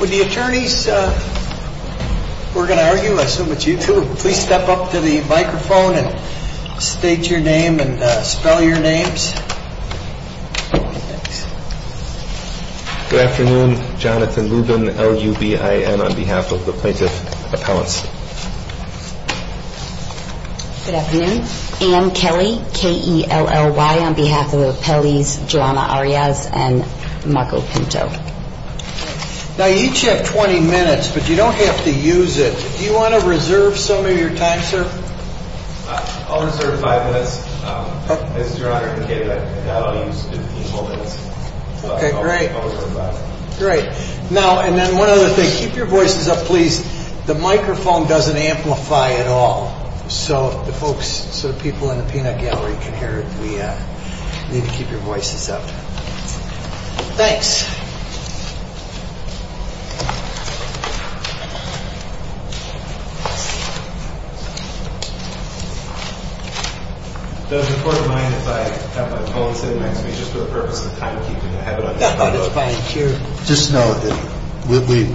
With the attorneys, we're going to argue, I assume it's you too. Please step up to the microphone and state your name and spell your names. Good afternoon. Jonathan Lubin, L-U-B-I-N, on behalf of the plaintiff's appellants. Good afternoon. Ann Kelly, K-E-L-L-Y, on behalf of the appellants, Joanna Arias and Marco Pinto. Now, you each have 20 minutes, but you don't have to use it. Do you want to reserve some of your time, sir? I'll reserve five minutes. This is your honor, I'll use 15 more minutes. Okay, great. Now, and then one other thing. Keep your voices up, please. The microphone doesn't amplify at all. So the folks, the people in the peanut gallery can hear it. We need to keep your voices up. Thanks. Those in court of mind, if I have my phone set next to me, just for the purpose of timekeeping, I have it on my phone. Just know that we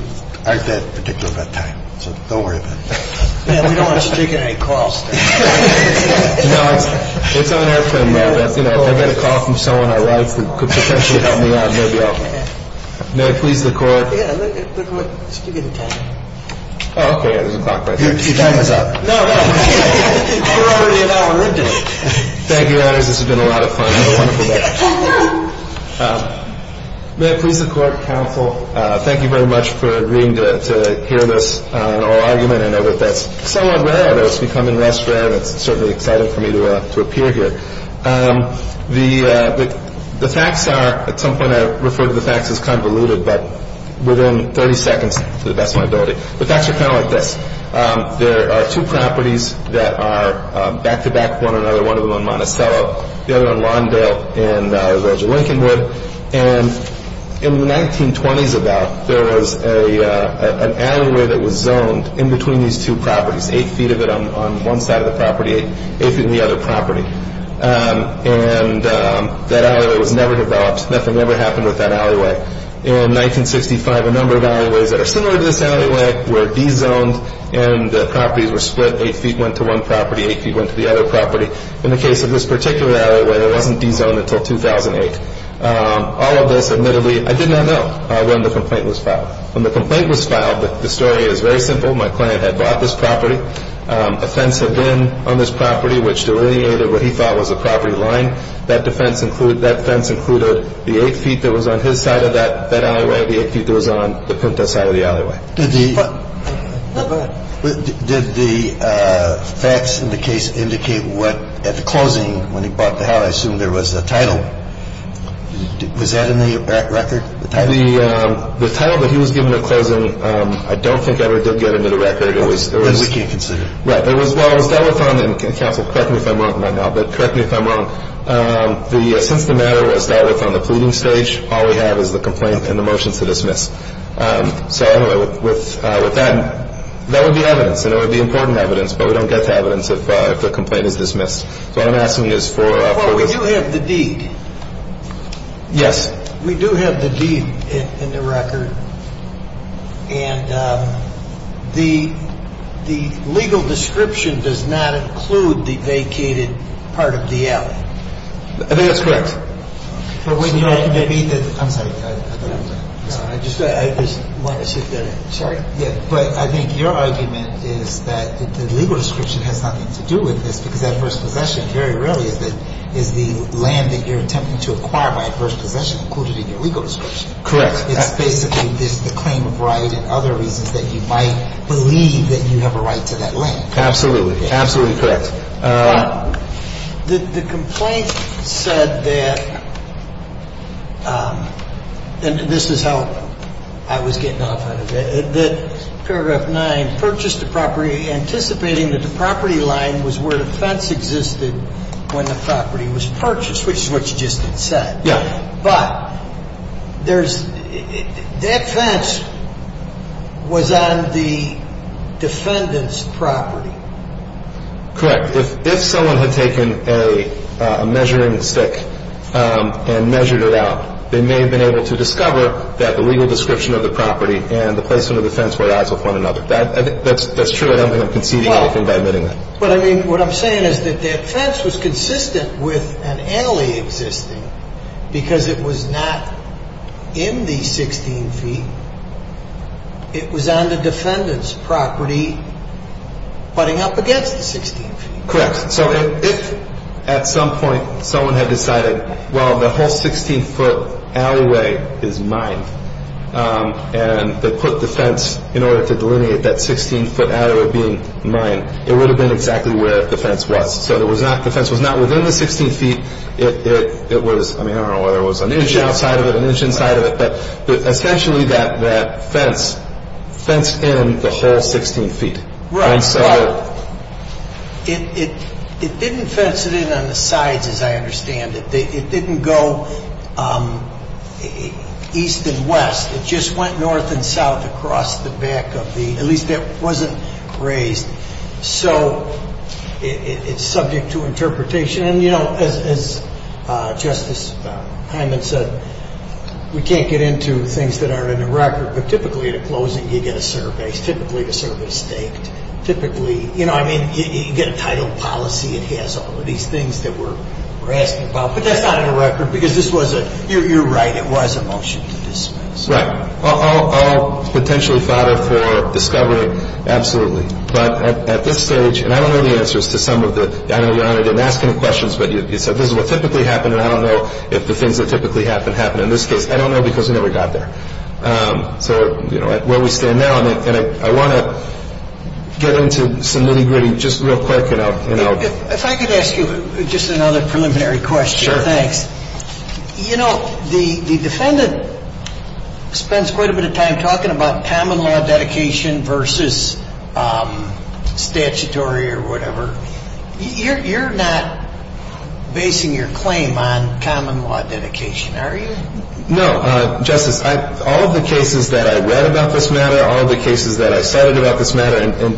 aren't that particular about time, so don't worry about that. We don't want you taking any calls, sir. No, it's on air for a moment. You know, if I get a call from someone I like who could potentially help me out, maybe I'll. May it please the court. Yeah, look, just give me the time. Oh, okay, yeah, there's a clock right there. Your time is up. No, no. We're already an hour into it. Thank you, Your Honors. This has been a lot of fun. It's a wonderful day. May it please the court, counsel. Thank you very much for agreeing to hear this oral argument. I know that that's somewhat rare, though. It's becoming less rare, and it's certainly exciting for me to appear here. The facts are, at some point I referred to the facts as convoluted, but within 30 seconds, to the best of my ability, the facts are kind of like this. There are two properties that are back-to-back, one another, one of them on Monticello, the other on Lawndale in Roger Lincolnwood. And in the 1920s about, there was an alleyway that was zoned in between these two properties, eight feet of it on one side of the property, eight feet on the other property. And that alleyway was never developed. Nothing ever happened with that alleyway. In 1965, a number of alleyways that are similar to this alleyway were de-zoned, and the properties were split. Eight feet went to one property, eight feet went to the other property. In the case of this particular alleyway, it wasn't de-zoned until 2008. All of this, admittedly, I did not know when the complaint was filed. When the complaint was filed, the story is very simple. My client had bought this property. A fence had been on this property, which delineated what he thought was a property line. That defense included the eight feet that was on his side of that alleyway, the eight feet that was on the Pinto side of the alleyway. Did the facts in the case indicate what, at the closing, when he bought the house, I assume there was a title. Was that in the record, the title? The title that he was given at closing, I don't think ever did get into the record. But we can't consider it. Right. Well, it was dealt with on, and counsel, correct me if I'm wrong right now, but correct me if I'm wrong. Since the matter was dealt with on the pleading stage, all we have is the complaint and the motion to dismiss. So anyway, with that, that would be evidence, and it would be important evidence, but we don't get the evidence if the complaint is dismissed. So what I'm asking you is for the. Well, we do have the deed. Yes. We do have the deed in the record, and the legal description does not include the vacated part of the alley. I think that's correct. I'm sorry. I just want to shift that. Sorry. But I think your argument is that the legal description has nothing to do with this, because adverse possession very rarely is the land that you're attempting to acquire by adverse possession included in your legal description. Correct. It's basically the claim of right and other reasons that you might believe that you have a right to that land. Absolutely. Absolutely correct. The complaint said that, and this is how I was getting off on it, that paragraph nine, purchased the property anticipating that the property line was where the fence existed when the property was purchased, which is what you just said. Yeah. But there's, that fence was on the defendant's property. Correct. If someone had taken a measuring stick and measured it out, they may have been able to discover that the legal description of the property and the placement of the fence were at odds with one another. That's true. I don't think I'm conceding anything by admitting that. But I mean, what I'm saying is that that fence was consistent with an alley existing because it was not in the 16 feet. It was on the defendant's property putting up against the 16 feet. Correct. So if at some point someone had decided, well, the whole 16-foot alleyway is mine, and they put the fence in order to delineate that 16-foot alleyway being mine, it would have been exactly where the fence was. So the fence was not within the 16 feet. It was, I mean, I don't know whether it was an inch outside of it, an inch inside of it, but essentially that fence fenced in the whole 16 feet. Right. Well, it didn't fence it in on the sides, as I understand it. It didn't go east and west. It just went north and south across the back of the, at least it wasn't raised. So it's subject to interpretation. And, you know, as Justice Hyman said, we can't get into things that aren't in the record. But typically at a closing you get a survey. Typically the survey is staked. Typically, you know, I mean, you get a title policy. It has all of these things that we're asking about. But that's not in the record because this was a, you're right, it was a motion to dismiss. Right. All potentially fodder for discovery. Absolutely. But at this stage, and I don't know the answers to some of the, I know Your Honor didn't ask any questions, but you said this is what typically happened, and I don't know if the things that typically happen happen in this case. I don't know because we never got there. So, you know, where we stand now, and I want to get into some nitty-gritty just real quick. If I could ask you just another preliminary question. Sure. Thanks. You know, the defendant spends quite a bit of time talking about common law dedication versus statutory or whatever. You're not basing your claim on common law dedication, are you? No. Justice, all of the cases that I read about this matter, all of the cases that I cited about this matter, and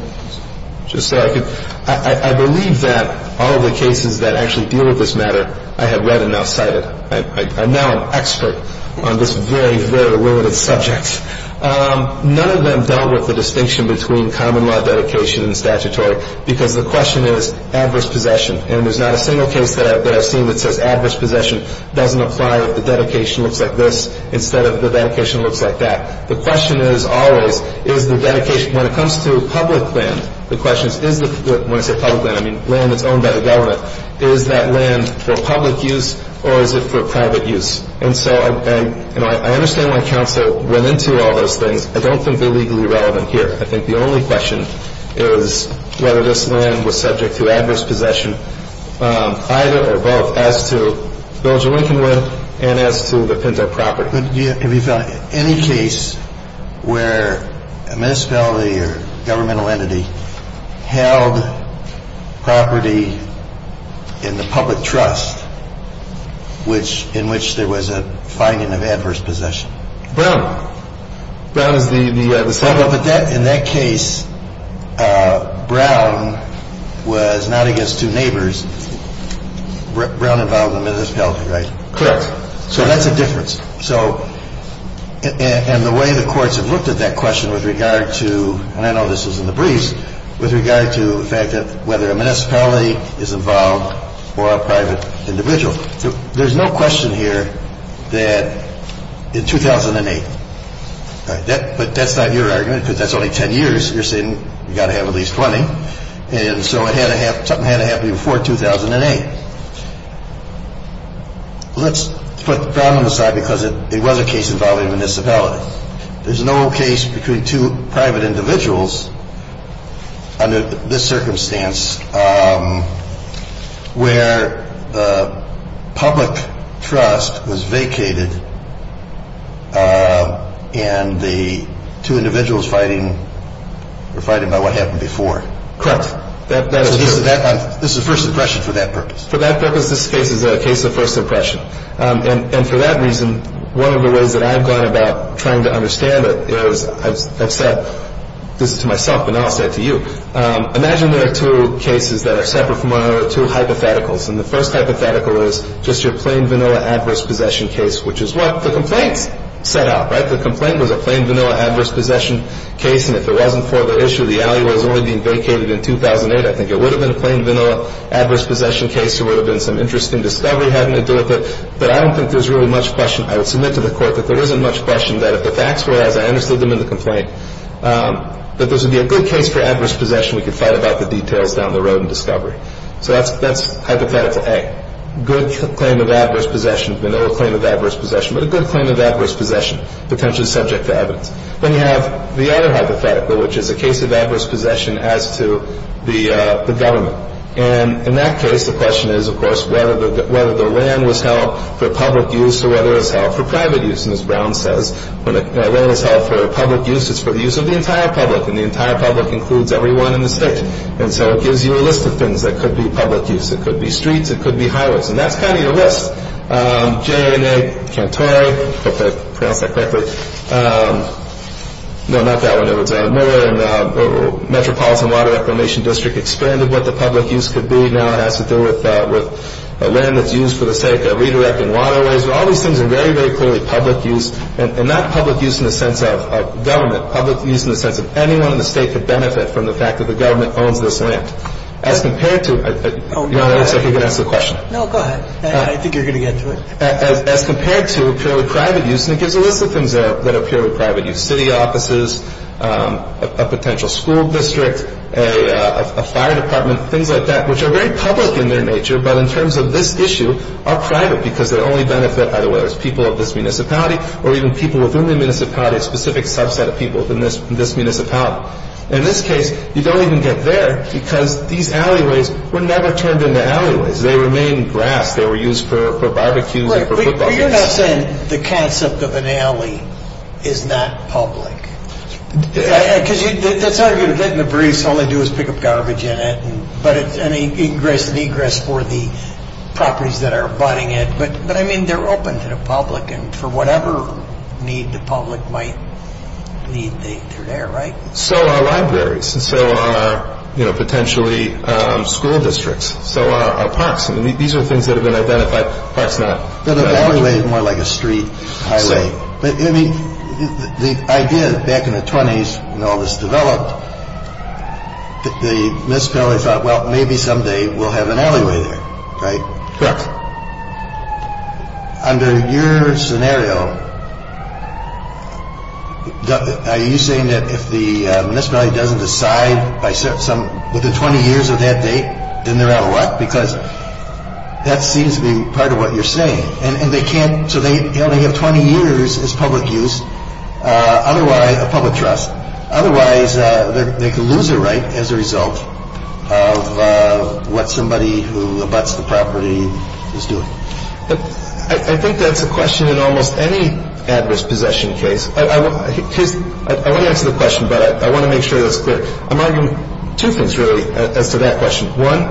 just so I could, I believe that all of the cases that actually deal with this matter I have read and now cited. I'm now an expert on this very, very limited subject. None of them dealt with the distinction between common law dedication and statutory because the question is adverse possession. And there's not a single case that I've seen that says adverse possession doesn't apply if the dedication looks like this instead of the dedication looks like that. The question is always is the dedication, when it comes to public land, the question is, when I say public land, I mean land that's owned by the government, is that land for public use or is it for private use? And so, you know, I understand why counsel went into all those things. I don't think they're legally relevant here. I think the only question is whether this land was subject to adverse possession, either or both, as to Bilger-Lincolnwood and as to the Pinto property. But have you found any case where a municipality or governmental entity held property in the public trust, in which there was a finding of adverse possession? Brown. Brown is the subject. Well, but in that case, Brown was not against two neighbors. Brown involved in the municipality, right? Correct. So that's a difference. So and the way the courts have looked at that question with regard to, and I know this was in the briefs, with regard to the fact that whether a municipality is involved or a private individual. So there's no question here that in 2008, but that's not your argument because that's only 10 years. You're saying you've got to have at least 20. And so it had to have something had to happen before 2008. Let's put Brown on the side because it was a case involving a municipality. There's no case between two private individuals under this circumstance where the public trust was vacated and the two individuals fighting were fighting about what happened before. Correct. This is first impression for that purpose. For that purpose, this case is a case of first impression. And for that reason, one of the ways that I've gone about trying to understand it is I've said this to myself, but now I'll say it to you. Imagine there are two cases that are separate from one another, two hypotheticals. And the first hypothetical is just your plain vanilla adverse possession case, which is what the complaints set out, right? The complaint was a plain vanilla adverse possession case, and if it wasn't for the issue, the alleyway was only being vacated in 2008. I think it would have been a plain vanilla adverse possession case. There would have been some interesting discovery having to do with it. But I don't think there's really much question. I would submit to the Court that there isn't much question that if the facts were as I understood them in the complaint, that this would be a good case for adverse possession. We could fight about the details down the road in discovery. So that's hypothetical A, good claim of adverse possession, vanilla claim of adverse possession, but a good claim of adverse possession, potentially subject to evidence. Then you have the other hypothetical, which is a case of adverse possession as to the government. And in that case, the question is, of course, whether the land was held for public use or whether it was held for private use. And as Brown says, when a land is held for public use, it's for the use of the entire public, and the entire public includes everyone in the state. And so it gives you a list of things that could be public use. It could be streets. It could be highways. And that's kind of your list. J. and A. Cantore, hope I pronounced that correctly. No, not that one. It's more in the Metropolitan Water Reclamation District expanded what the public use could be. Now it has to do with land that's used for the sake of redirecting waterways. All these things are very, very clearly public use, and not public use in the sense of government, public use in the sense of anyone in the state could benefit from the fact that the government owns this land. As compared to, Your Honor, it looks like you're going to ask the question. No, go ahead. I think you're going to get to it. As compared to purely private use, and it gives a list of things that are purely private use, a potential school district, a fire department, things like that, which are very public in their nature, but in terms of this issue are private because they only benefit either whether it's people of this municipality or even people within the municipality, a specific subset of people in this municipality. In this case, you don't even get there because these alleyways were never turned into alleyways. They remained grass. Well, you're not saying the concept of an alley is not public. Because that's how you're going to get in the breeze. All they do is pick up garbage in it, but it's an egress for the properties that are abiding it. But, I mean, they're open to the public, and for whatever need the public might need, they're there, right? So are libraries, and so are potentially school districts, so are parks. These are things that have been identified, parks not. But an alleyway is more like a street, a highway. But, I mean, the idea back in the 20s when all this developed, the municipality thought, well, maybe someday we'll have an alleyway there, right? Correct. Under your scenario, are you saying that if the municipality doesn't decide with the 20 years of that date, then they're out of luck? Because that seems to be part of what you're saying. And they can't, so they only have 20 years as public use, otherwise, of public trust. Otherwise, they could lose a right as a result of what somebody who abuts the property is doing. I think that's a question in almost any adverse possession case. I want to answer the question, but I want to make sure that's clear. I'm arguing two things, really, as to that question. One,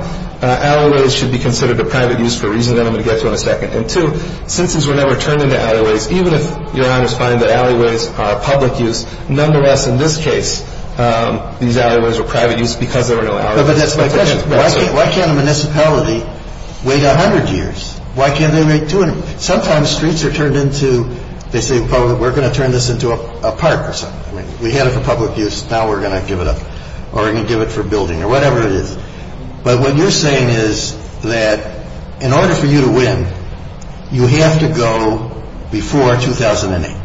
alleyways should be considered a private use for a reason that I'm going to get to in a second. And, two, since these were never turned into alleyways, even if Your Honors find that alleyways are public use, nonetheless, in this case, these alleyways were private use because there were no alleyways. But that's my question. Why can't a municipality wait 100 years? Why can't they wait 200? Sometimes streets are turned into, they say, we're going to turn this into a park or something. We had it for public use. Now we're going to give it up or we're going to give it for building or whatever it is. But what you're saying is that in order for you to win, you have to go before 2008.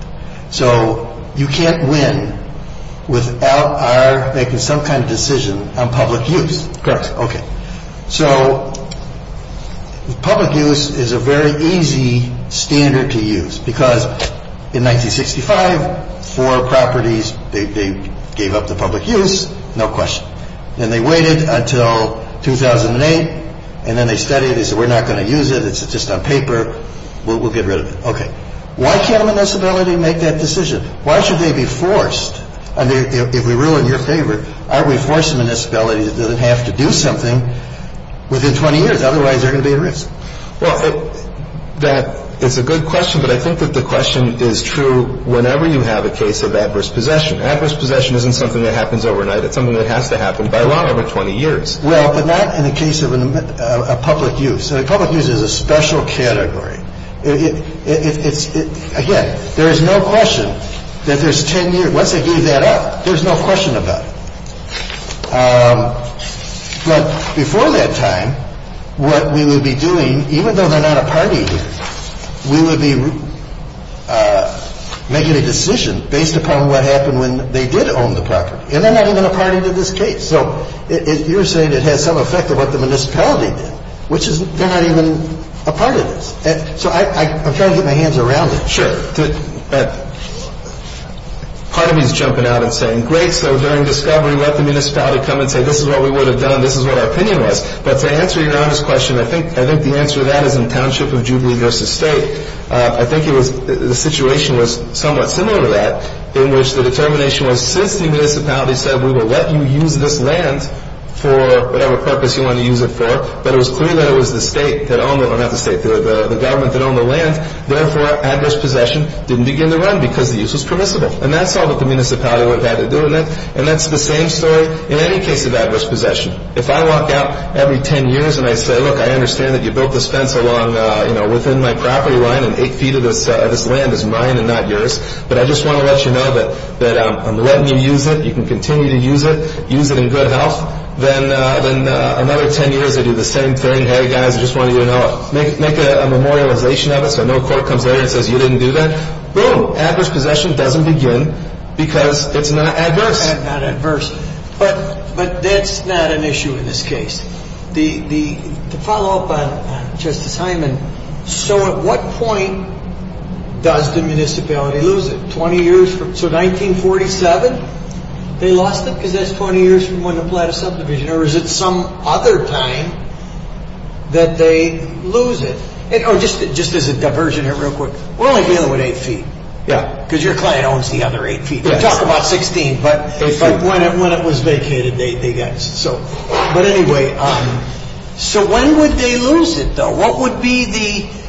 So you can't win without our making some kind of decision on public use. Correct. Okay. So public use is a very easy standard to use because in 1965, four properties, they gave up the public use. No question. And they waited until 2008. And then they studied it. They said, we're not going to use it. It's just on paper. We'll get rid of it. Okay. Why can't a municipality make that decision? Why should they be forced? If we rule in your favor, aren't we forcing a municipality that doesn't have to do something within 20 years? Otherwise, they're going to be at risk. Well, it's a good question, but I think that the question is true whenever you have a case of adverse possession. Adverse possession isn't something that happens overnight. It's something that has to happen by law over 20 years. Well, but not in the case of a public use. A public use is a special category. Again, there is no question that there's 10 years. Once they gave that up, there's no question about it. But before that time, what we would be doing, even though they're not a party here, we would be making a decision based upon what happened when they did own the property. And they're not even a party to this case. So you're saying it has some effect of what the municipality did, which is they're not even a part of this. So I'm trying to get my hands around it. Sure. Part of me is jumping out and saying, great, so during discovery, let the municipality come and say, this is what we would have done, this is what our opinion was. But to answer Your Honor's question, I think the answer to that is in Township of Jubilee v. State. I think the situation was somewhat similar to that in which the determination was, since the municipality said we will let you use this land for whatever purpose you want to use it for, but it was clear that it was the government that owned the land. Therefore, adverse possession didn't begin to run because the use was permissible. And that's all that the municipality would have had to do in that. And that's the same story in any case of adverse possession. If I walk out every ten years and I say, look, I understand that you built this fence within my property line and eight feet of this land is mine and not yours, but I just want to let you know that I'm letting you use it, that you can continue to use it, use it in good health, then another ten years I do the same thing, hey guys, I just want you to know, make a memorialization of it so no court comes later and says you didn't do that. Boom, adverse possession doesn't begin because it's not adverse. It's not adverse. But that's not an issue in this case. To follow up on Justice Hyman, so at what point does the municipality lose it? So 1947 they lost it because that's 20 years from when they applied a subdivision or is it some other time that they lose it? Just as a diversion here real quick, we're only dealing with eight feet. Because your client owns the other eight feet. We're talking about 16, but when it was vacated, they got it. But anyway, so when would they lose it though?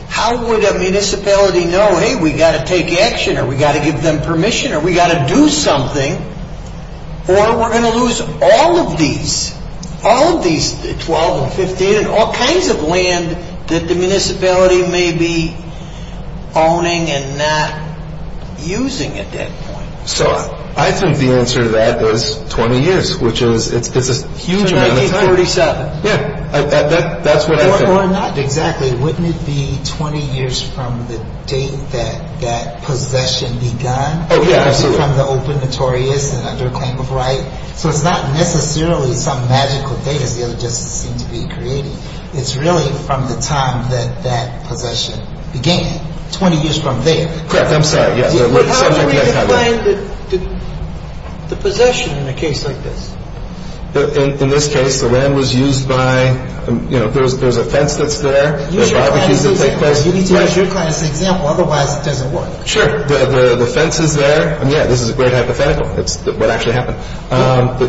How would a municipality know, hey, we've got to take action or we've got to give them permission or we've got to do something or we're going to lose all of these, all of these 12 and 15 and all kinds of land that the municipality may be owning and not using at that point. So I think the answer to that is 20 years, which is a huge amount of time. So 1937. Yeah, that's what I think. Or not exactly. Wouldn't it be 20 years from the date that that possession begun? Oh, yeah, absolutely. Would it be from the open notorious and under claim of right? So it's not necessarily some magical date as the other justices seem to be creating. It's really from the time that that possession began, 20 years from there. Correct. I'm sorry. How would we define the possession in a case like this? In this case, the land was used by, you know, there's a fence that's there. Use your client as an example. You need to use your client as an example, otherwise it doesn't work. Sure. The fence is there. Yeah, this is a great hypothetical. It's what actually happened.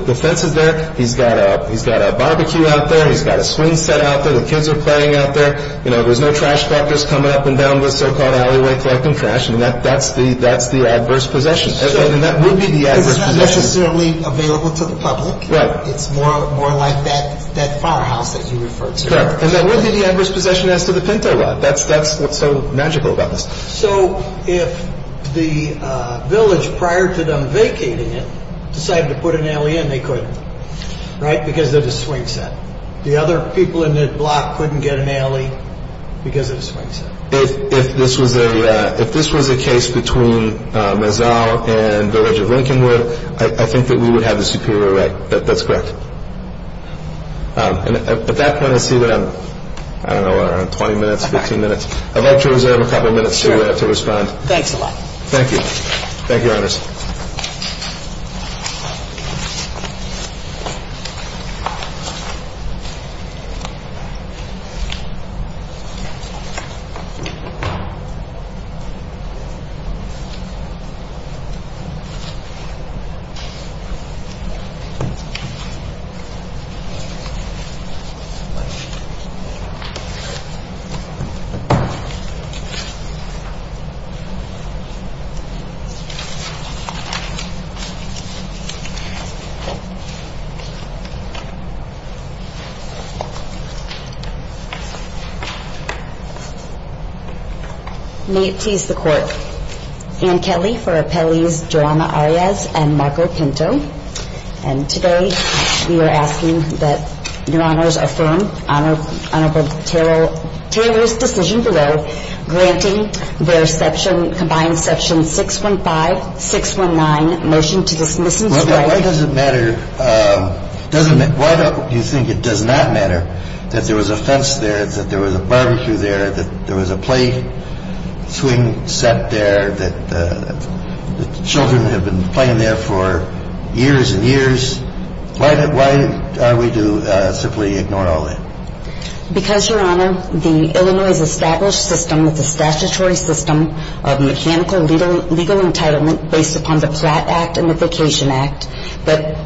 The fence is there. He's got a barbecue out there. He's got a swing set out there. The kids are playing out there. You know, there's no trash collectors coming up and down this so-called alleyway collecting trash. I mean, that's the adverse possession. Sure. And that would be the adverse possession. It's not necessarily available to the public. Right. It's more like that firehouse that you referred to earlier. Correct. And that would be the adverse possession as to the Pinto lot. That's what's so magical about this. So if the village, prior to them vacating it, decided to put an alley in, they couldn't, right, because of the swing set. The other people in the block couldn't get an alley because of the swing set. If this was a case between Mezal and Village of Lincolnwood, I think that we would have the superior right. That's correct. At that point, I see that I'm, I don't know, we're on 20 minutes, 15 minutes. I'd like to reserve a couple of minutes to respond. Thanks a lot. Thank you. Thank you, Your Honors. Thank you. May it please the Court. Ann Kelly for Appellees JoAnna Arias and Marco Pinto. And today we are asking that Your Honors affirm Honorable Taylor's decision below, granting their section, combined section 615, 619, motion to dismiss and swear. Why does it matter, why do you think it does not matter that there was a fence there, that there was a barbecue there, that there was a play swing set there, that children have been playing there for years and years? Why are we to simply ignore all that? Because, Your Honor, the Illinois' established system is a statutory system of mechanical legal entitlement based upon the Platt Act and the Vacation Act that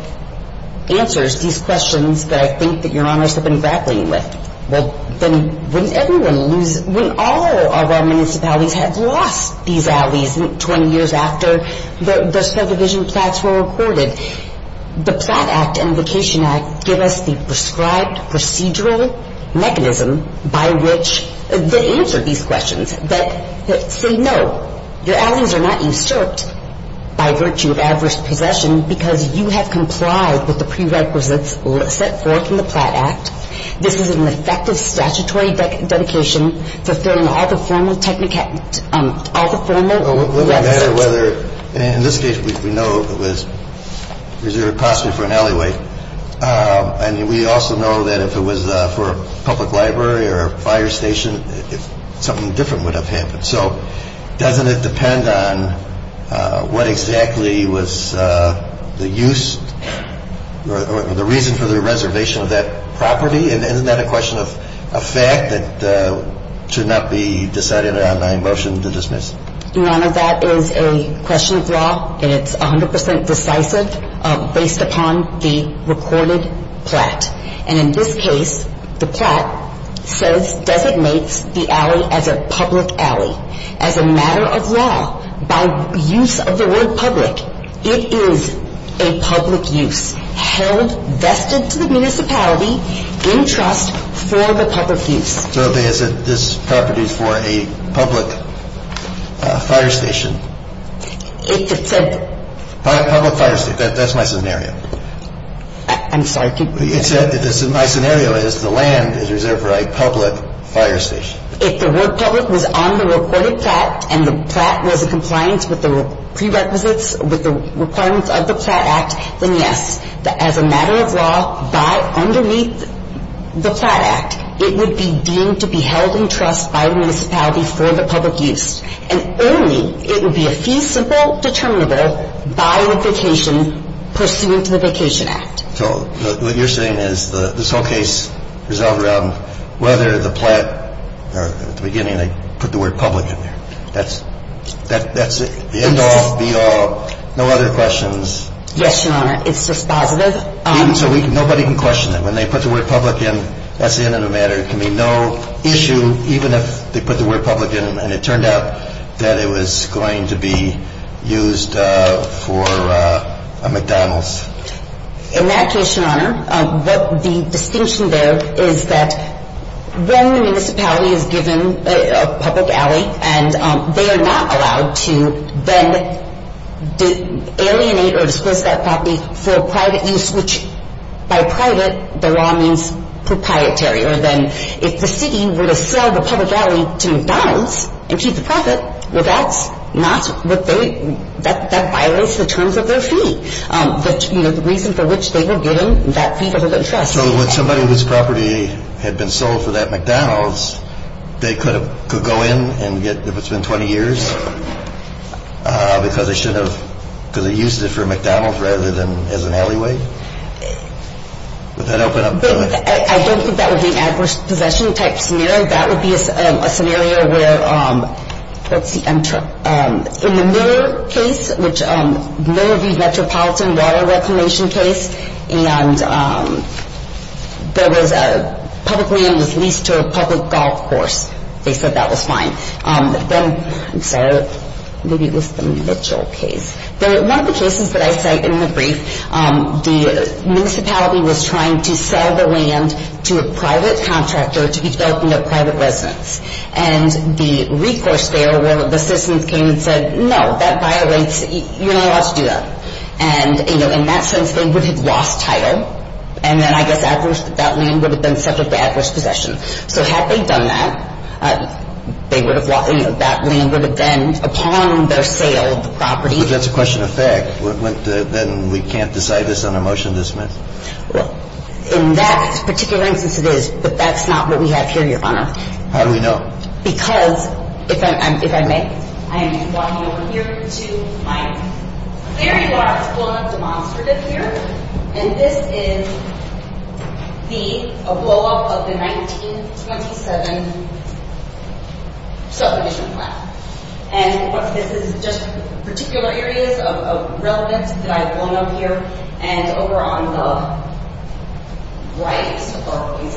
answers these questions that I think that Your Honors have been grappling with. Well, then wouldn't everyone lose, wouldn't all of our municipalities have lost these alleys 20 years after the subdivision Platt's were recorded? The Platt Act and the Vacation Act give us the prescribed procedural mechanism by which they answer these questions that say, no, your alleys are not usurped by virtue of adverse possession because you have complied with the prerequisites set forth in the Platt Act. This is an effective statutory dedication fulfilling all the formal requisites. Well, would it matter whether, in this case, we know it was reserved possibly for an alleyway. I mean, we also know that if it was for a public library or a fire station, something different would have happened. So doesn't it depend on what exactly was the use or the reason for the reservation of that property? And isn't that a question of fact that should not be decided on a motion to dismiss? Your Honor, that is a question of law and it's 100 percent decisive based upon the recorded Platt. And in this case, the Platt says, designates the alley as a public alley as a matter of law by use of the word public. It is a public use held vested to the municipality in trust for the public use. So this property is for a public fire station. It's a public fire station. That's my scenario. I'm sorry. My scenario is the land is reserved for a public fire station. If the word public was on the recorded Platt and the Platt was in compliance with the prerequisites, with the requirements of the Platt Act, then, yes, as a matter of law, by underneath the Platt Act, it would be deemed to be held in trust by the municipality for the public use. And only it would be a fee simple determinable by the vacation pursuant to the Vacation Act. So what you're saying is this whole case is all around whether the Platt, or at the beginning, they put the word public in there. That's the end all, be all. No other questions. Yes, Your Honor. It's just positive. Nobody can question that. When they put the word public in, that's the end of the matter. It can be no issue even if they put the word public in. And it turned out that it was going to be used for a McDonald's. In that case, Your Honor, the distinction there is that when the municipality is given a public alley and they are not allowed to then alienate or dispose of that property for private use, which by private, the law means proprietary. Or then if the city were to sell the public alley to McDonald's and keep the profit, that violates the terms of their fee. The reason for which they were given that fee was of interest. So when somebody whose property had been sold for that McDonald's, they could go in and get, if it's been 20 years, because they used it for a McDonald's rather than as an alleyway? Would that open up the? I don't think that would be an adverse possession type scenario. That would be a scenario where, let's see, in the Miller case, which Miller v. Metropolitan water reclamation case, and public land was leased to a public golf course. They said that was fine. I'm sorry, maybe it was the Mitchell case. One of the cases that I cite in the brief, the municipality was trying to sell the land to a private contractor to be developed in their private residence. And the recourse there where the citizens came and said, no, that violates, you're not allowed to do that. And, you know, in that sense, they would have lost title. And then I guess that land would have been subject to adverse possession. So had they done that, they would have lost, you know, that land would have been upon their sale of the property. But that's a question of fact. Then we can't decide this on a motion to dismiss? In that particular instance, it is. But that's not what we have here, Your Honor. How do we know? Because, if I may, I am walking over here to my very last blown-up demonstrative here. And this is a blow-up of the 1927 subdivision plan. And this is just particular areas of relevance that I've blown up here. And over on the right, these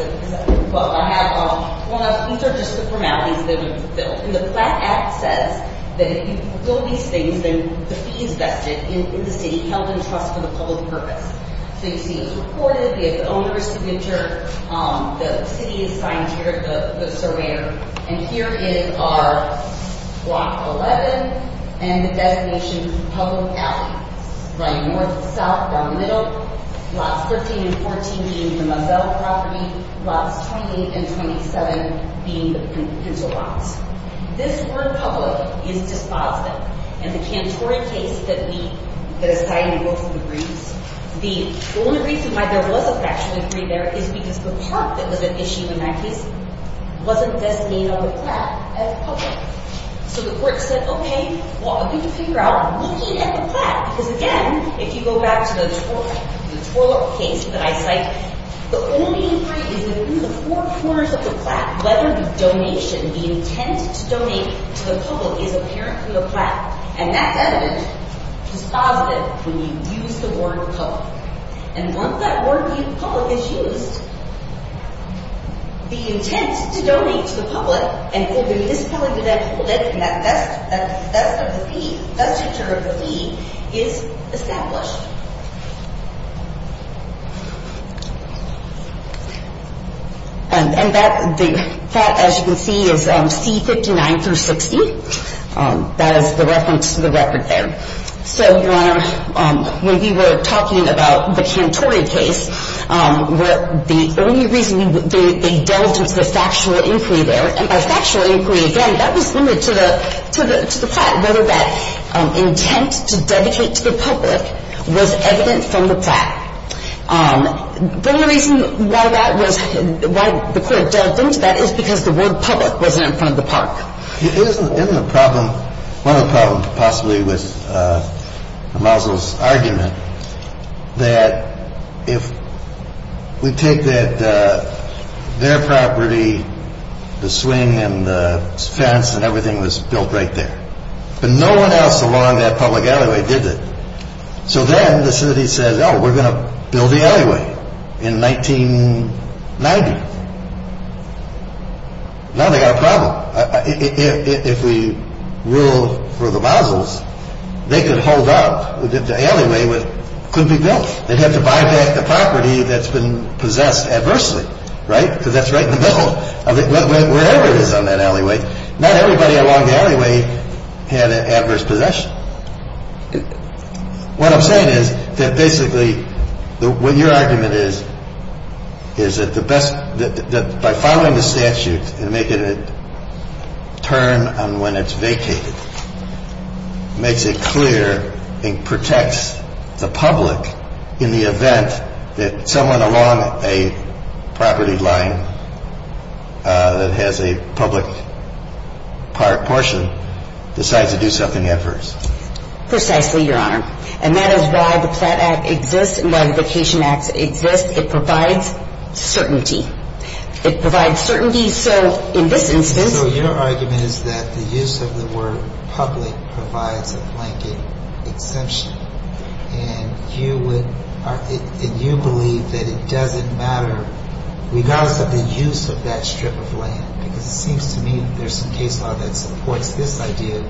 are just the formalities that have been fulfilled. And the Plan Act says that if you fulfill these things, then the fee is vested in the city, held in trust for the public purpose. So you see it's reported. We have the owner's signature. The city is signed here, the surveyor. And here is our Block 11 and the destination public alley, right north to the south, down the middle, Lots 13 and 14 being the Moselle property, Lots 28 and 27 being the Pinto Lots. This word public is dispositive. In the Cantoria case that we, that is tied in both of the briefs, the only reason why there was a factual agreement there is because the part that was at issue in that case wasn't this name of the plaque as public. So the court said, okay, well, I'm going to figure out the meaning of the plaque. Because again, if you go back to the Torlop case that I cite, the only agreement is that in the four corners of the plaque, whether the donation, the intent to donate to the public, is apparent to the plaque. And that element, dispositive, when you use the word public. And once that word public is used, the intent to donate to the public, and for the municipality to then hold it, and that's the feature of the fee, is established. And that, as you can see, is C-59-60. That is the reference to the record there. So, Your Honor, when we were talking about the Cantoria case, the only reason they delved into the factual inquiry there, and by factual inquiry, again, that was limited to the plaque, whether that intent to dedicate to the public was evident from the plaque. The only reason why that was, why the court delved into that is because the word public wasn't in front of the plaque. Isn't the problem, one of the problems, possibly, with the Mausel's argument that if we take that their property, the swing and the fence and everything was built right there, but no one else along that public alleyway did it. So then the city says, oh, we're going to build the alleyway in 1990. Now they've got a problem. If we rule for the Mausel's, they could hold up, the alleyway couldn't be built. They'd have to buy back the property that's been possessed adversely, right? Because that's right in the middle of it, wherever it is on that alleyway. Not everybody along the alleyway had adverse possession. What I'm saying is that basically, what your argument is, is that the best, that by following the statute and make it a term on when it's vacated, makes it clear and protects the public in the event that someone along a property line that has a public portion decides to do something adverse. Precisely, Your Honor. And that is why the Platt Act exists and why the Vacation Act exists. It provides certainty. It provides certainty, so in this instance... So your argument is that the use of the word public provides a blanket exemption. And you believe that it doesn't matter, regardless of the use of that strip of land, because it seems to me there's some case law that supports this idea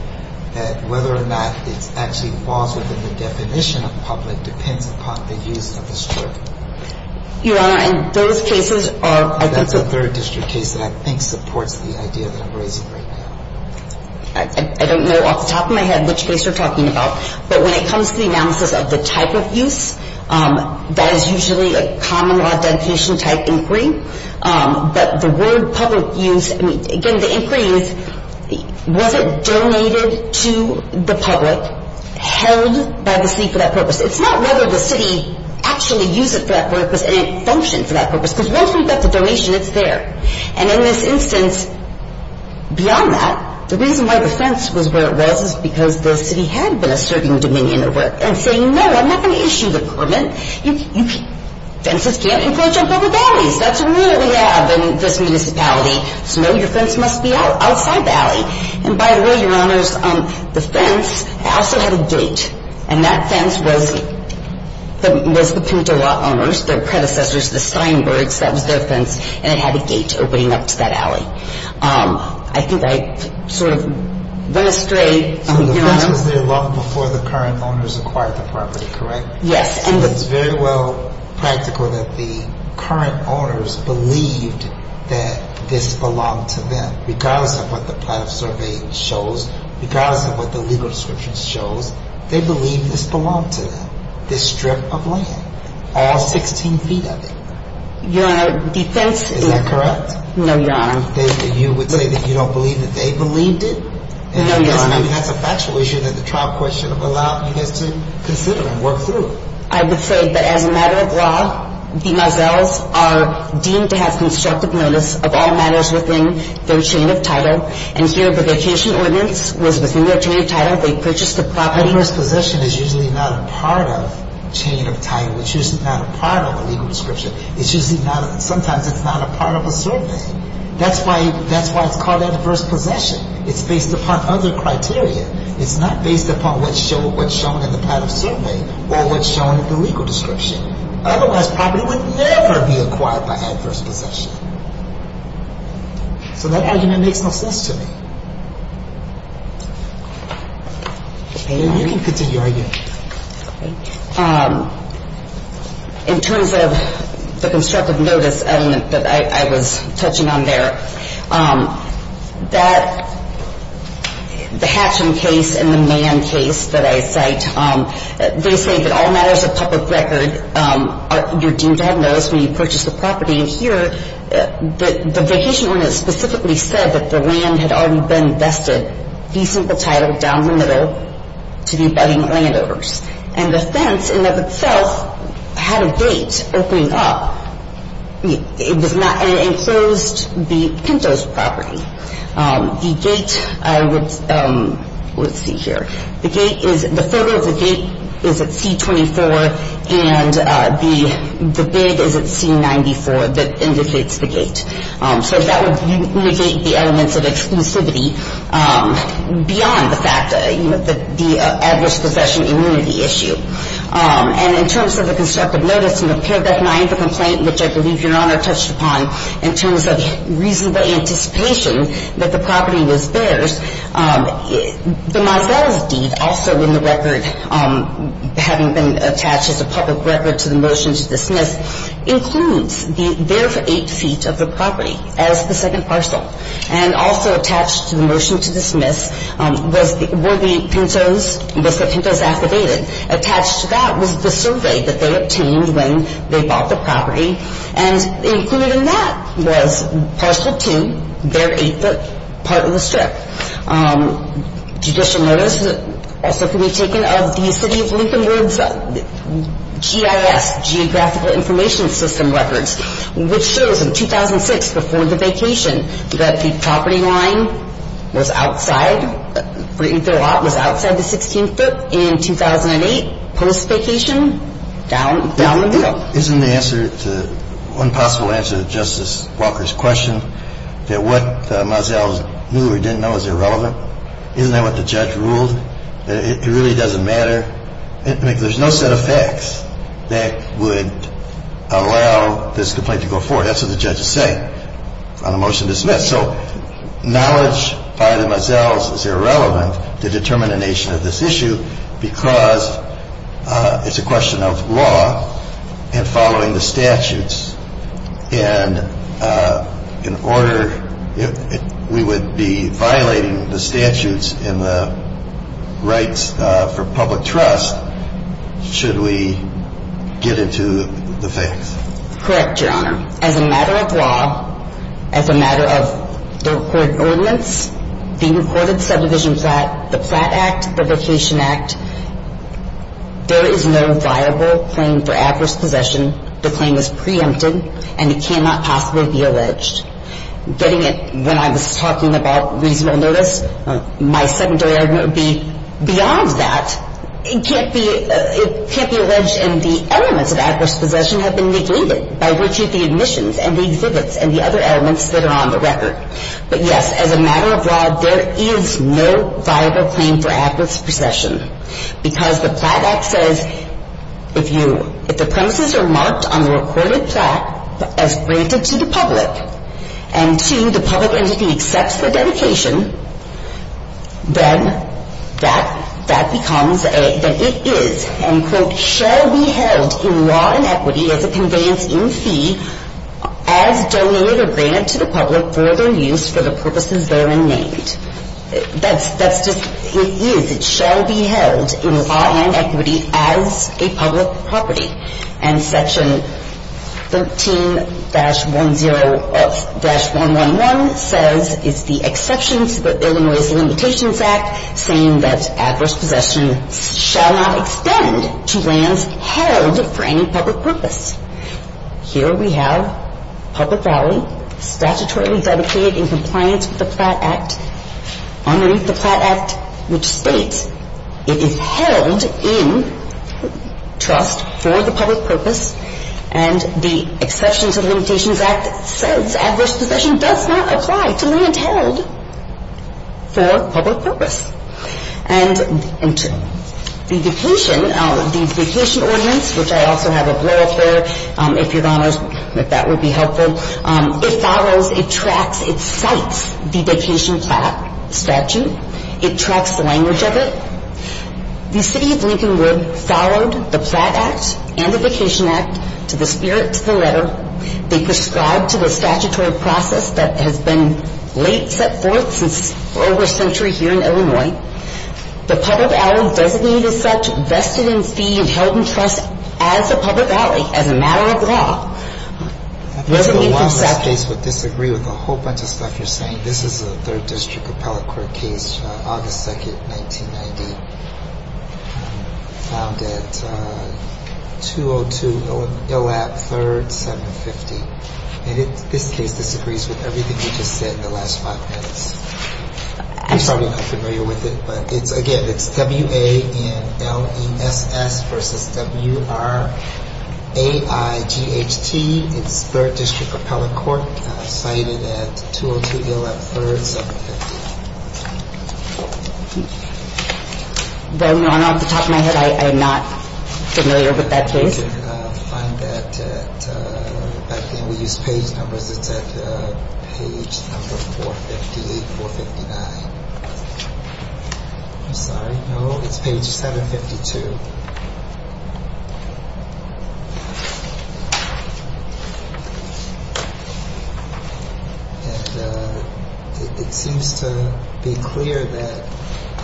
that whether or not it actually falls within the definition of public depends upon the use of the strip. Your Honor, and those cases are... That's a third district case that I think supports the idea that I'm raising right now. I don't know off the top of my head which case you're talking about, but when it comes to the analysis of the type of use, that is usually a common law dedication type inquiry. But the word public use, I mean, again, the inquiry is, was it donated to the public, held by the city for that purpose? It's not whether the city actually used it for that purpose and it functioned for that purpose, because once we get the donation, it's there. And in this instance, beyond that, the reason why the fence was where it was is because the city had been asserting dominion over it and saying, no, I'm not going to issue the permit. Fences can't encroach on public properties. That's a rule that we have in this municipality. So, no, your fence must be outside the alley. And, by the way, Your Honors, the fence also had a gate, and that fence was the Pentola owners, their predecessors, the Steinbergs, that was their fence, and it had a gate opening up to that alley. I think I sort of went astray. So the fence was there long before the current owners acquired the property, correct? Yes. And it's very well practical that the current owners believed that this belonged to them, regardless of what the plan of surveying shows, regardless of what the legal description shows. They believed this belonged to them, this strip of land, all 16 feet of it. Your Honor, the fence is... Is that correct? No, Your Honor. You would say that you don't believe that they believed it? No, Your Honor. I mean, that's a factual issue that the trial question would allow you guys to consider and work through. I would say that, as a matter of law, demoiselles are deemed to have constructive notice of all matters within their chain of title. And here, the vacation ordinance was within their chain of title. They purchased the property... But adverse possession is usually not a part of chain of title. It's usually not a part of a legal description. It's usually not... Sometimes it's not a part of a survey. That's why it's called adverse possession. It's based upon other criteria. It's not based upon what's shown in the title survey or what's shown in the legal description. Otherwise, property would never be acquired by adverse possession. So that argument makes no sense to me. You can continue arguing. In terms of the constructive notice element that I was touching on there, that the Hatcham case and the Mann case that I cite, they say that all matters of public record are deemed to have notice when you purchase the property. And here, the vacation ordinance specifically said that the land had already been vested, the simple title down the middle, to the abetting landowners. And the fence, in and of itself, had a gate opening up. And it enclosed the Pinto's property. The gate, I would see here, the photo of the gate is at C-24, and the bid is at C-94 that indicates the gate. So that would negate the elements of exclusivity beyond the fact, you know, the adverse possession immunity issue. And in terms of the constructive notice in the paragraph 9 of the complaint, which I believe Your Honor touched upon, in terms of reasonable anticipation that the property was theirs, the Mazette's deed, also in the record, having been attached as a public record to the motion to dismiss, includes the therefore eight feet of the property as the second parcel. And also attached to the motion to dismiss were the Pinto's, the Pinto's affidavit. Attached to that was the survey that they obtained when they bought the property, and included in that was parcel 2, their eighth foot part of the strip. Judicial notice also can be taken of the City of Lincoln Woods GIS, Geographical Information System records, which shows in 2006, before the vacation, that the property line was outside, was outside the 16th foot in 2008, post-vacation, down the hill. Isn't the answer to, one possible answer to Justice Walker's question, that what Mazette knew or didn't know is irrelevant? Isn't that what the judge ruled? It really doesn't matter? I mean, there's no set of facts that would allow this complaint to go forward. That's what the judge is saying on the motion to dismiss. So knowledge by themselves is irrelevant to determining the nature of this issue because it's a question of law and following the statutes. And in order, we would be violating the statutes and the rights for public trust should we get into the facts. Correct, Your Honor. As a matter of law, as a matter of the recorded ordinance, the recorded subdivision plat, the plat act, the vacation act, there is no viable claim for adverse possession. The claim is preempted and it cannot possibly be alleged. Getting it when I was talking about reasonable notice, my secondary argument would be beyond that. It can't be alleged and the elements of adverse possession have been negated by virtue of the admissions and the exhibits and the other elements that are on the record. But, yes, as a matter of law, there is no viable claim for adverse possession because the plat act says if the premises are marked on the recorded plat as granted to the public and, two, the public entity accepts the dedication, then that becomes a, that it is and, quote, shall be held in law and equity as a conveyance in fee as donated or granted to the public for their use for the purposes therein named. That's just, it is, it shall be held in law and equity as a public property. And section 13-10, dash 111 says it's the exceptions to the Illinois Limitations Act saying that adverse possession shall not extend to lands held for any public purpose. Here we have public value statutorily dedicated in compliance with the plat act. Underneath the plat act, which states it is held in trust for the public purpose and the exceptions to the limitations act says adverse possession does not apply to land held for public purpose. And the vacation, the vacation ordinance, which I also have a blurb there, if your honors, if that would be helpful, it follows, it tracks, it cites the vacation plat statute. It tracks the language of it. The city of Lincolnwood followed the plat act and the vacation act to the spirit to the letter. They prescribed to the statutory process that has been late set forth since over a century here in Illinois. The public alley doesn't need as such vested in fee and held in trust as a public alley, as a matter of law. This case would disagree with a whole bunch of stuff you're saying. This is a third district appellate court case, August 2nd, 1990, found at 202 Illap 3rd, 750. And this case disagrees with everything you just said in the last five minutes. You're probably not familiar with it, but it's again, it's W-A-N-L-E-S-S versus W-R-A-I-G-H-T. It's third district appellate court cited at 202 Illap 3rd, 750. Then your honor, off the top of my head, I am not familiar with that case. I did find that back then we used page numbers. It's at page number 458, 459. I'm sorry, no, it's page 752. And it seems to be clear that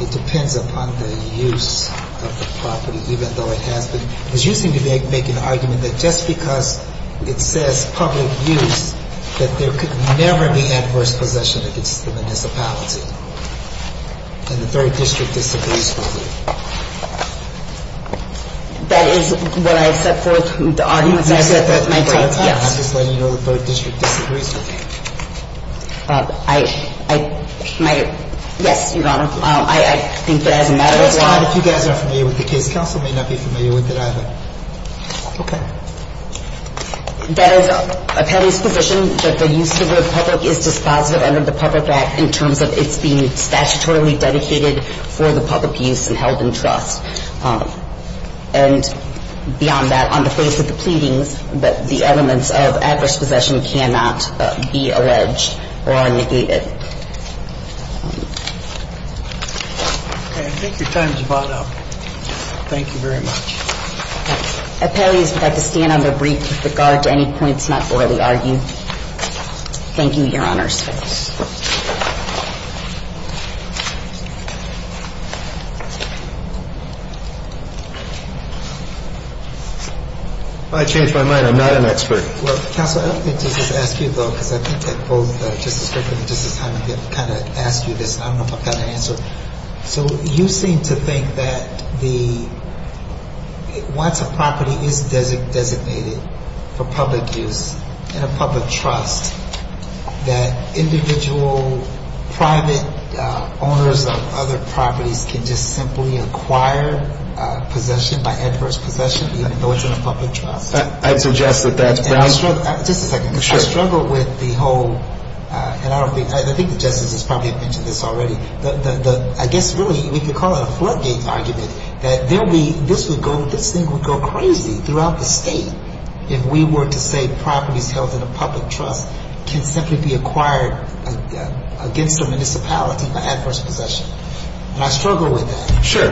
it depends upon the use of the property, even though it has been, because you seem to make an argument that just because it says public use, that there could never be adverse possession against the municipality. And the third district disagrees with it. That is what I set forth, the arguments I set forth. I'm just letting you know the third district disagrees with me. I, I, my, yes, your honor. I, I think that as a matter of law. And if you guys aren't familiar with the case, counsel may not be familiar with it either. Okay. That is a petty's position that the use of the public is dispositive under the public act in terms of its being statutorily dedicated for the public use and held in trust. And beyond that, on the face of the pleadings, that the elements of adverse possession cannot be alleged or are negated. Okay. I think your time is about up. Thank you very much. Okay. Appellees would like to stand on their brief with regard to any points not broadly argued. Thank you, your honors. I changed my mind. I'm not an expert. Well, counsel, I don't think Justice Askew, though, because I think that both Justice Griffin and Justice Heineken kind of asked you this, and I don't know if I've got an answer. So you seem to think that the, once a property is designated for public use in a public trust, that individual private owners of other properties can just simply acquire possession, by adverse possession, even though it's in a public trust? I'd suggest that that's broadly. Just a second. Sure. Because I struggle with the whole, and I don't think, I think the justices probably have mentioned this already, the, I guess, really, we could call it a floodgate argument, that there'll be, this would go, this thing would go crazy throughout the state if we were to say properties held in a public trust can simply be acquired against the municipality by adverse possession. And I struggle with that. Sure.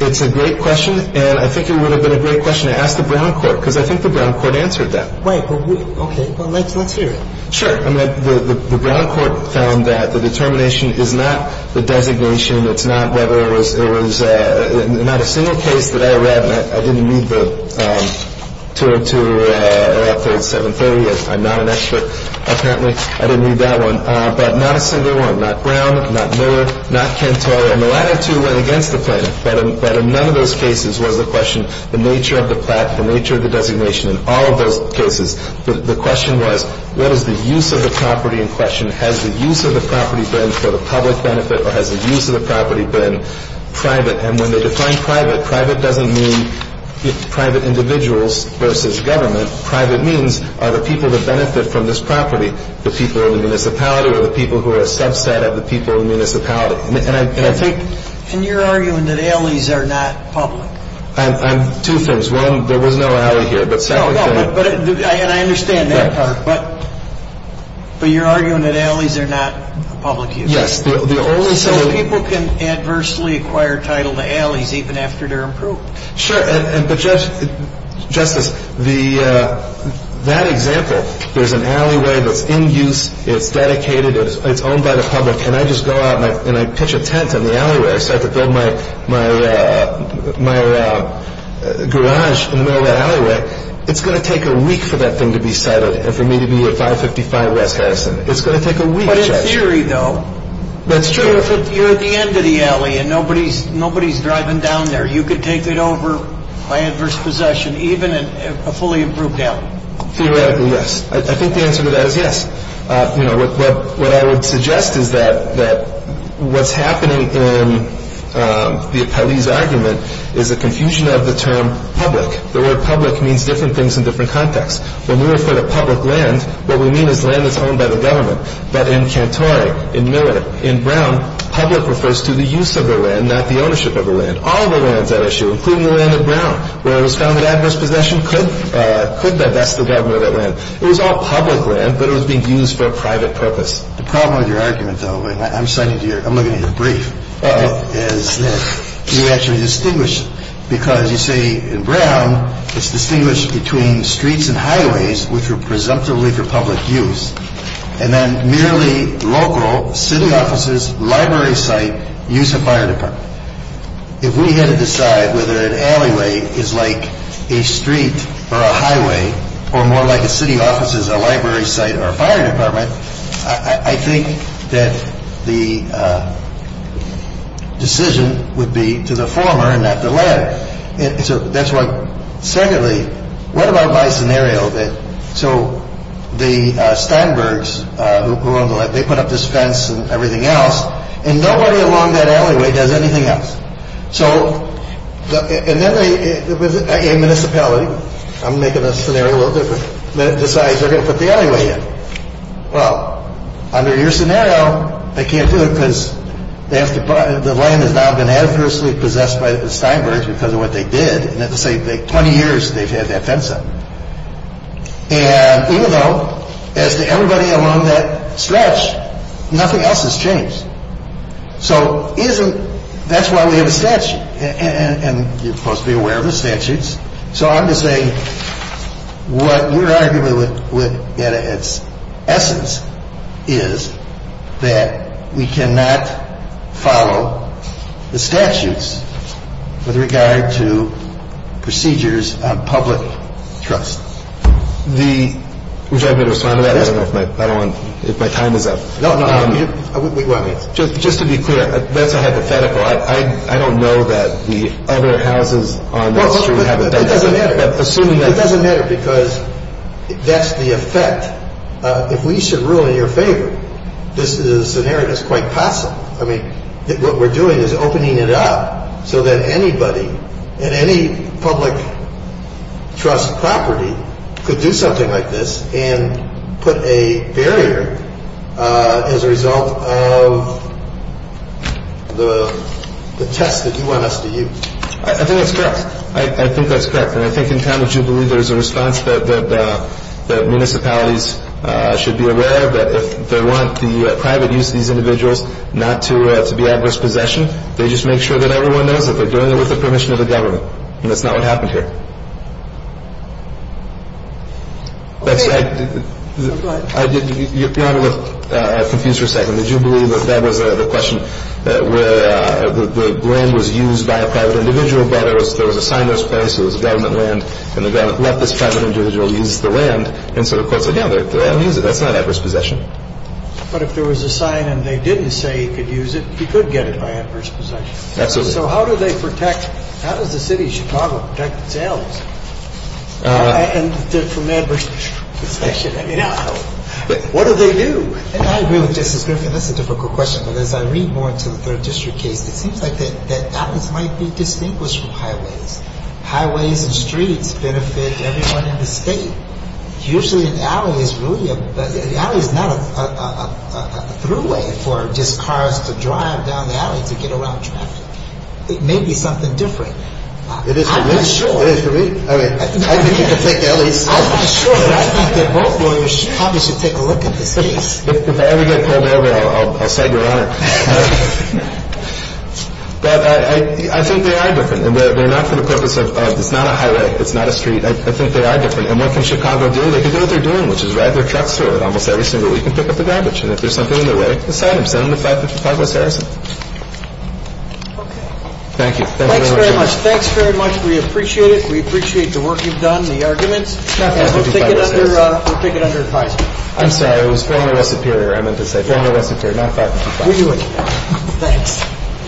It's a great question, and I think it would have been a great question to ask the Brown Court, because I think the Brown Court answered that. But we, okay. Well, let's hear it. Sure. I mean, the Brown Court found that the determination is not the designation. It's not whether it was, it was, not a single case that I read, and I didn't read the 202 or Article 730. I'm not an expert, apparently. I didn't read that one. But not a single one. Not Brown, not Miller, not Cantor. And the latter two went against the plan. But in none of those cases was the question the nature of the plat, the nature of the designation. In all of those cases, the question was what is the use of the property in question? Has the use of the property been for the public benefit, or has the use of the property been private? And when they define private, private doesn't mean private individuals versus government. Private means are the people that benefit from this property the people in the municipality or the people who are a subset of the people in the municipality? And I think. And you're arguing that Aileys are not public. I'm, two things. There's one, there was no alley here. No, no. And I understand that part. But you're arguing that Aileys are not public use. Yes. So people can adversely acquire title to Aileys even after they're approved. Sure. But, Justice, that example, there's an alleyway that's in use, it's dedicated, it's owned by the public, and I just go out and I pitch a tent in the alleyway. I start to build my garage in the middle of the alleyway. It's going to take a week for that thing to be settled and for me to be at 555 West Harrison. It's going to take a week, Judge. But in theory, though. That's true. If you're at the end of the alley and nobody's driving down there, you could take it over by adverse possession even in a fully approved alley. Theoretically, yes. I think the answer to that is yes. What I would suggest is that what's happening in the Aileys argument is a confusion of the term public. The word public means different things in different contexts. When we refer to public land, what we mean is land that's owned by the government. But in Cantori, in Miller, in Brown, public refers to the use of the land, not the ownership of the land. All of the land's at issue, including the land in Brown, where it was found that adverse possession could divest the government of that land. It was all public land, but it was being used for a private purpose. The problem with your argument, though, and I'm citing to you, I'm looking at your brief, is that you actually distinguish because you say in Brown it's distinguished between streets and highways, which were presumptively for public use, and then merely local city offices, library site, use of fire department. If we had to decide whether an alleyway is like a street or a highway, or more like a city office is a library site or a fire department, I think that the decision would be to the former and not the latter. So that's why, secondly, what about my scenario? So the Steinbergs who own the land, they put up this fence and everything else, and nobody along that alleyway does anything else. And then a municipality, I'm making a scenario a little different, decides they're going to put the alleyway in. Well, under your scenario, they can't do it because the land has now been adversely possessed by the Steinbergs because of what they did, and at the same thing, 20 years they've had that fence up. And even though, as to everybody along that stretch, nothing else has changed. So that's why we have a statute, and you're supposed to be aware of the statutes. So I'm just saying what we're arguing at its essence is that we cannot follow the statutes with regard to procedures on public trust. Would you like me to respond to that? I don't know if my time is up. No, no. Just to be clear, that's a hypothetical. I don't know that the other houses on that street have it. That doesn't matter. It doesn't matter because that's the effect. If we should rule in your favor, this is a scenario that's quite possible. I mean, what we're doing is opening it up so that anybody and any public trust property could do something like this and put a barrier as a result of the test that you want us to use. I think that's correct. I think that's correct. And I think in time that you believe there's a response that municipalities should be aware of, that if they want the private use of these individuals not to be adverse possession, they just make sure that everyone knows that they're doing it with the permission of the government. And that's not what happened here. Okay. Go ahead. Your Honor, I'm confused for a second. Did you believe that that was the question, that the land was used by a private individual, but there was a sign that was placed, it was government land, and the government let this private individual use the land. And so the courts said, yeah, they'll use it. That's not adverse possession. But if there was a sign and they didn't say he could use it, he could get it by adverse possession. Absolutely. So how do they protect, how does the city of Chicago protect itself from adverse possession? I mean, what do they do? I agree with Justice Griffin. That's a difficult question. But as I read more into the third district case, it seems like that alleys might be distinguished from highways. Highways and streets benefit everyone in the state. Usually an alley is really a, an alley is not a throughway for just cars to drive down the alley to get around traffic. It may be something different. It is to me. I'm not sure. It is to me. I mean, I think you can take alleys. I'm not sure. I think that both lawyers probably should take a look at this case. If I ever get pulled over, I'll say you're on it. But I think they are different. And they're not for the purpose of, it's not a highway, it's not a street. I think they are different. And what can Chicago do? They can do what they're doing, which is ride their trucks through it almost every single week and pick up the garbage. And if there's something in the way of this item, send them to 555 West Harrison. Okay. Thank you. Thanks very much. Thanks very much. We appreciate it. We appreciate the work you've done, the arguments. Not 555 West Harrison. We'll take it under, we'll take it under advisement. I'm sorry. It was former West Superior I meant to say. Former West Superior, not 555. We knew it. Thanks.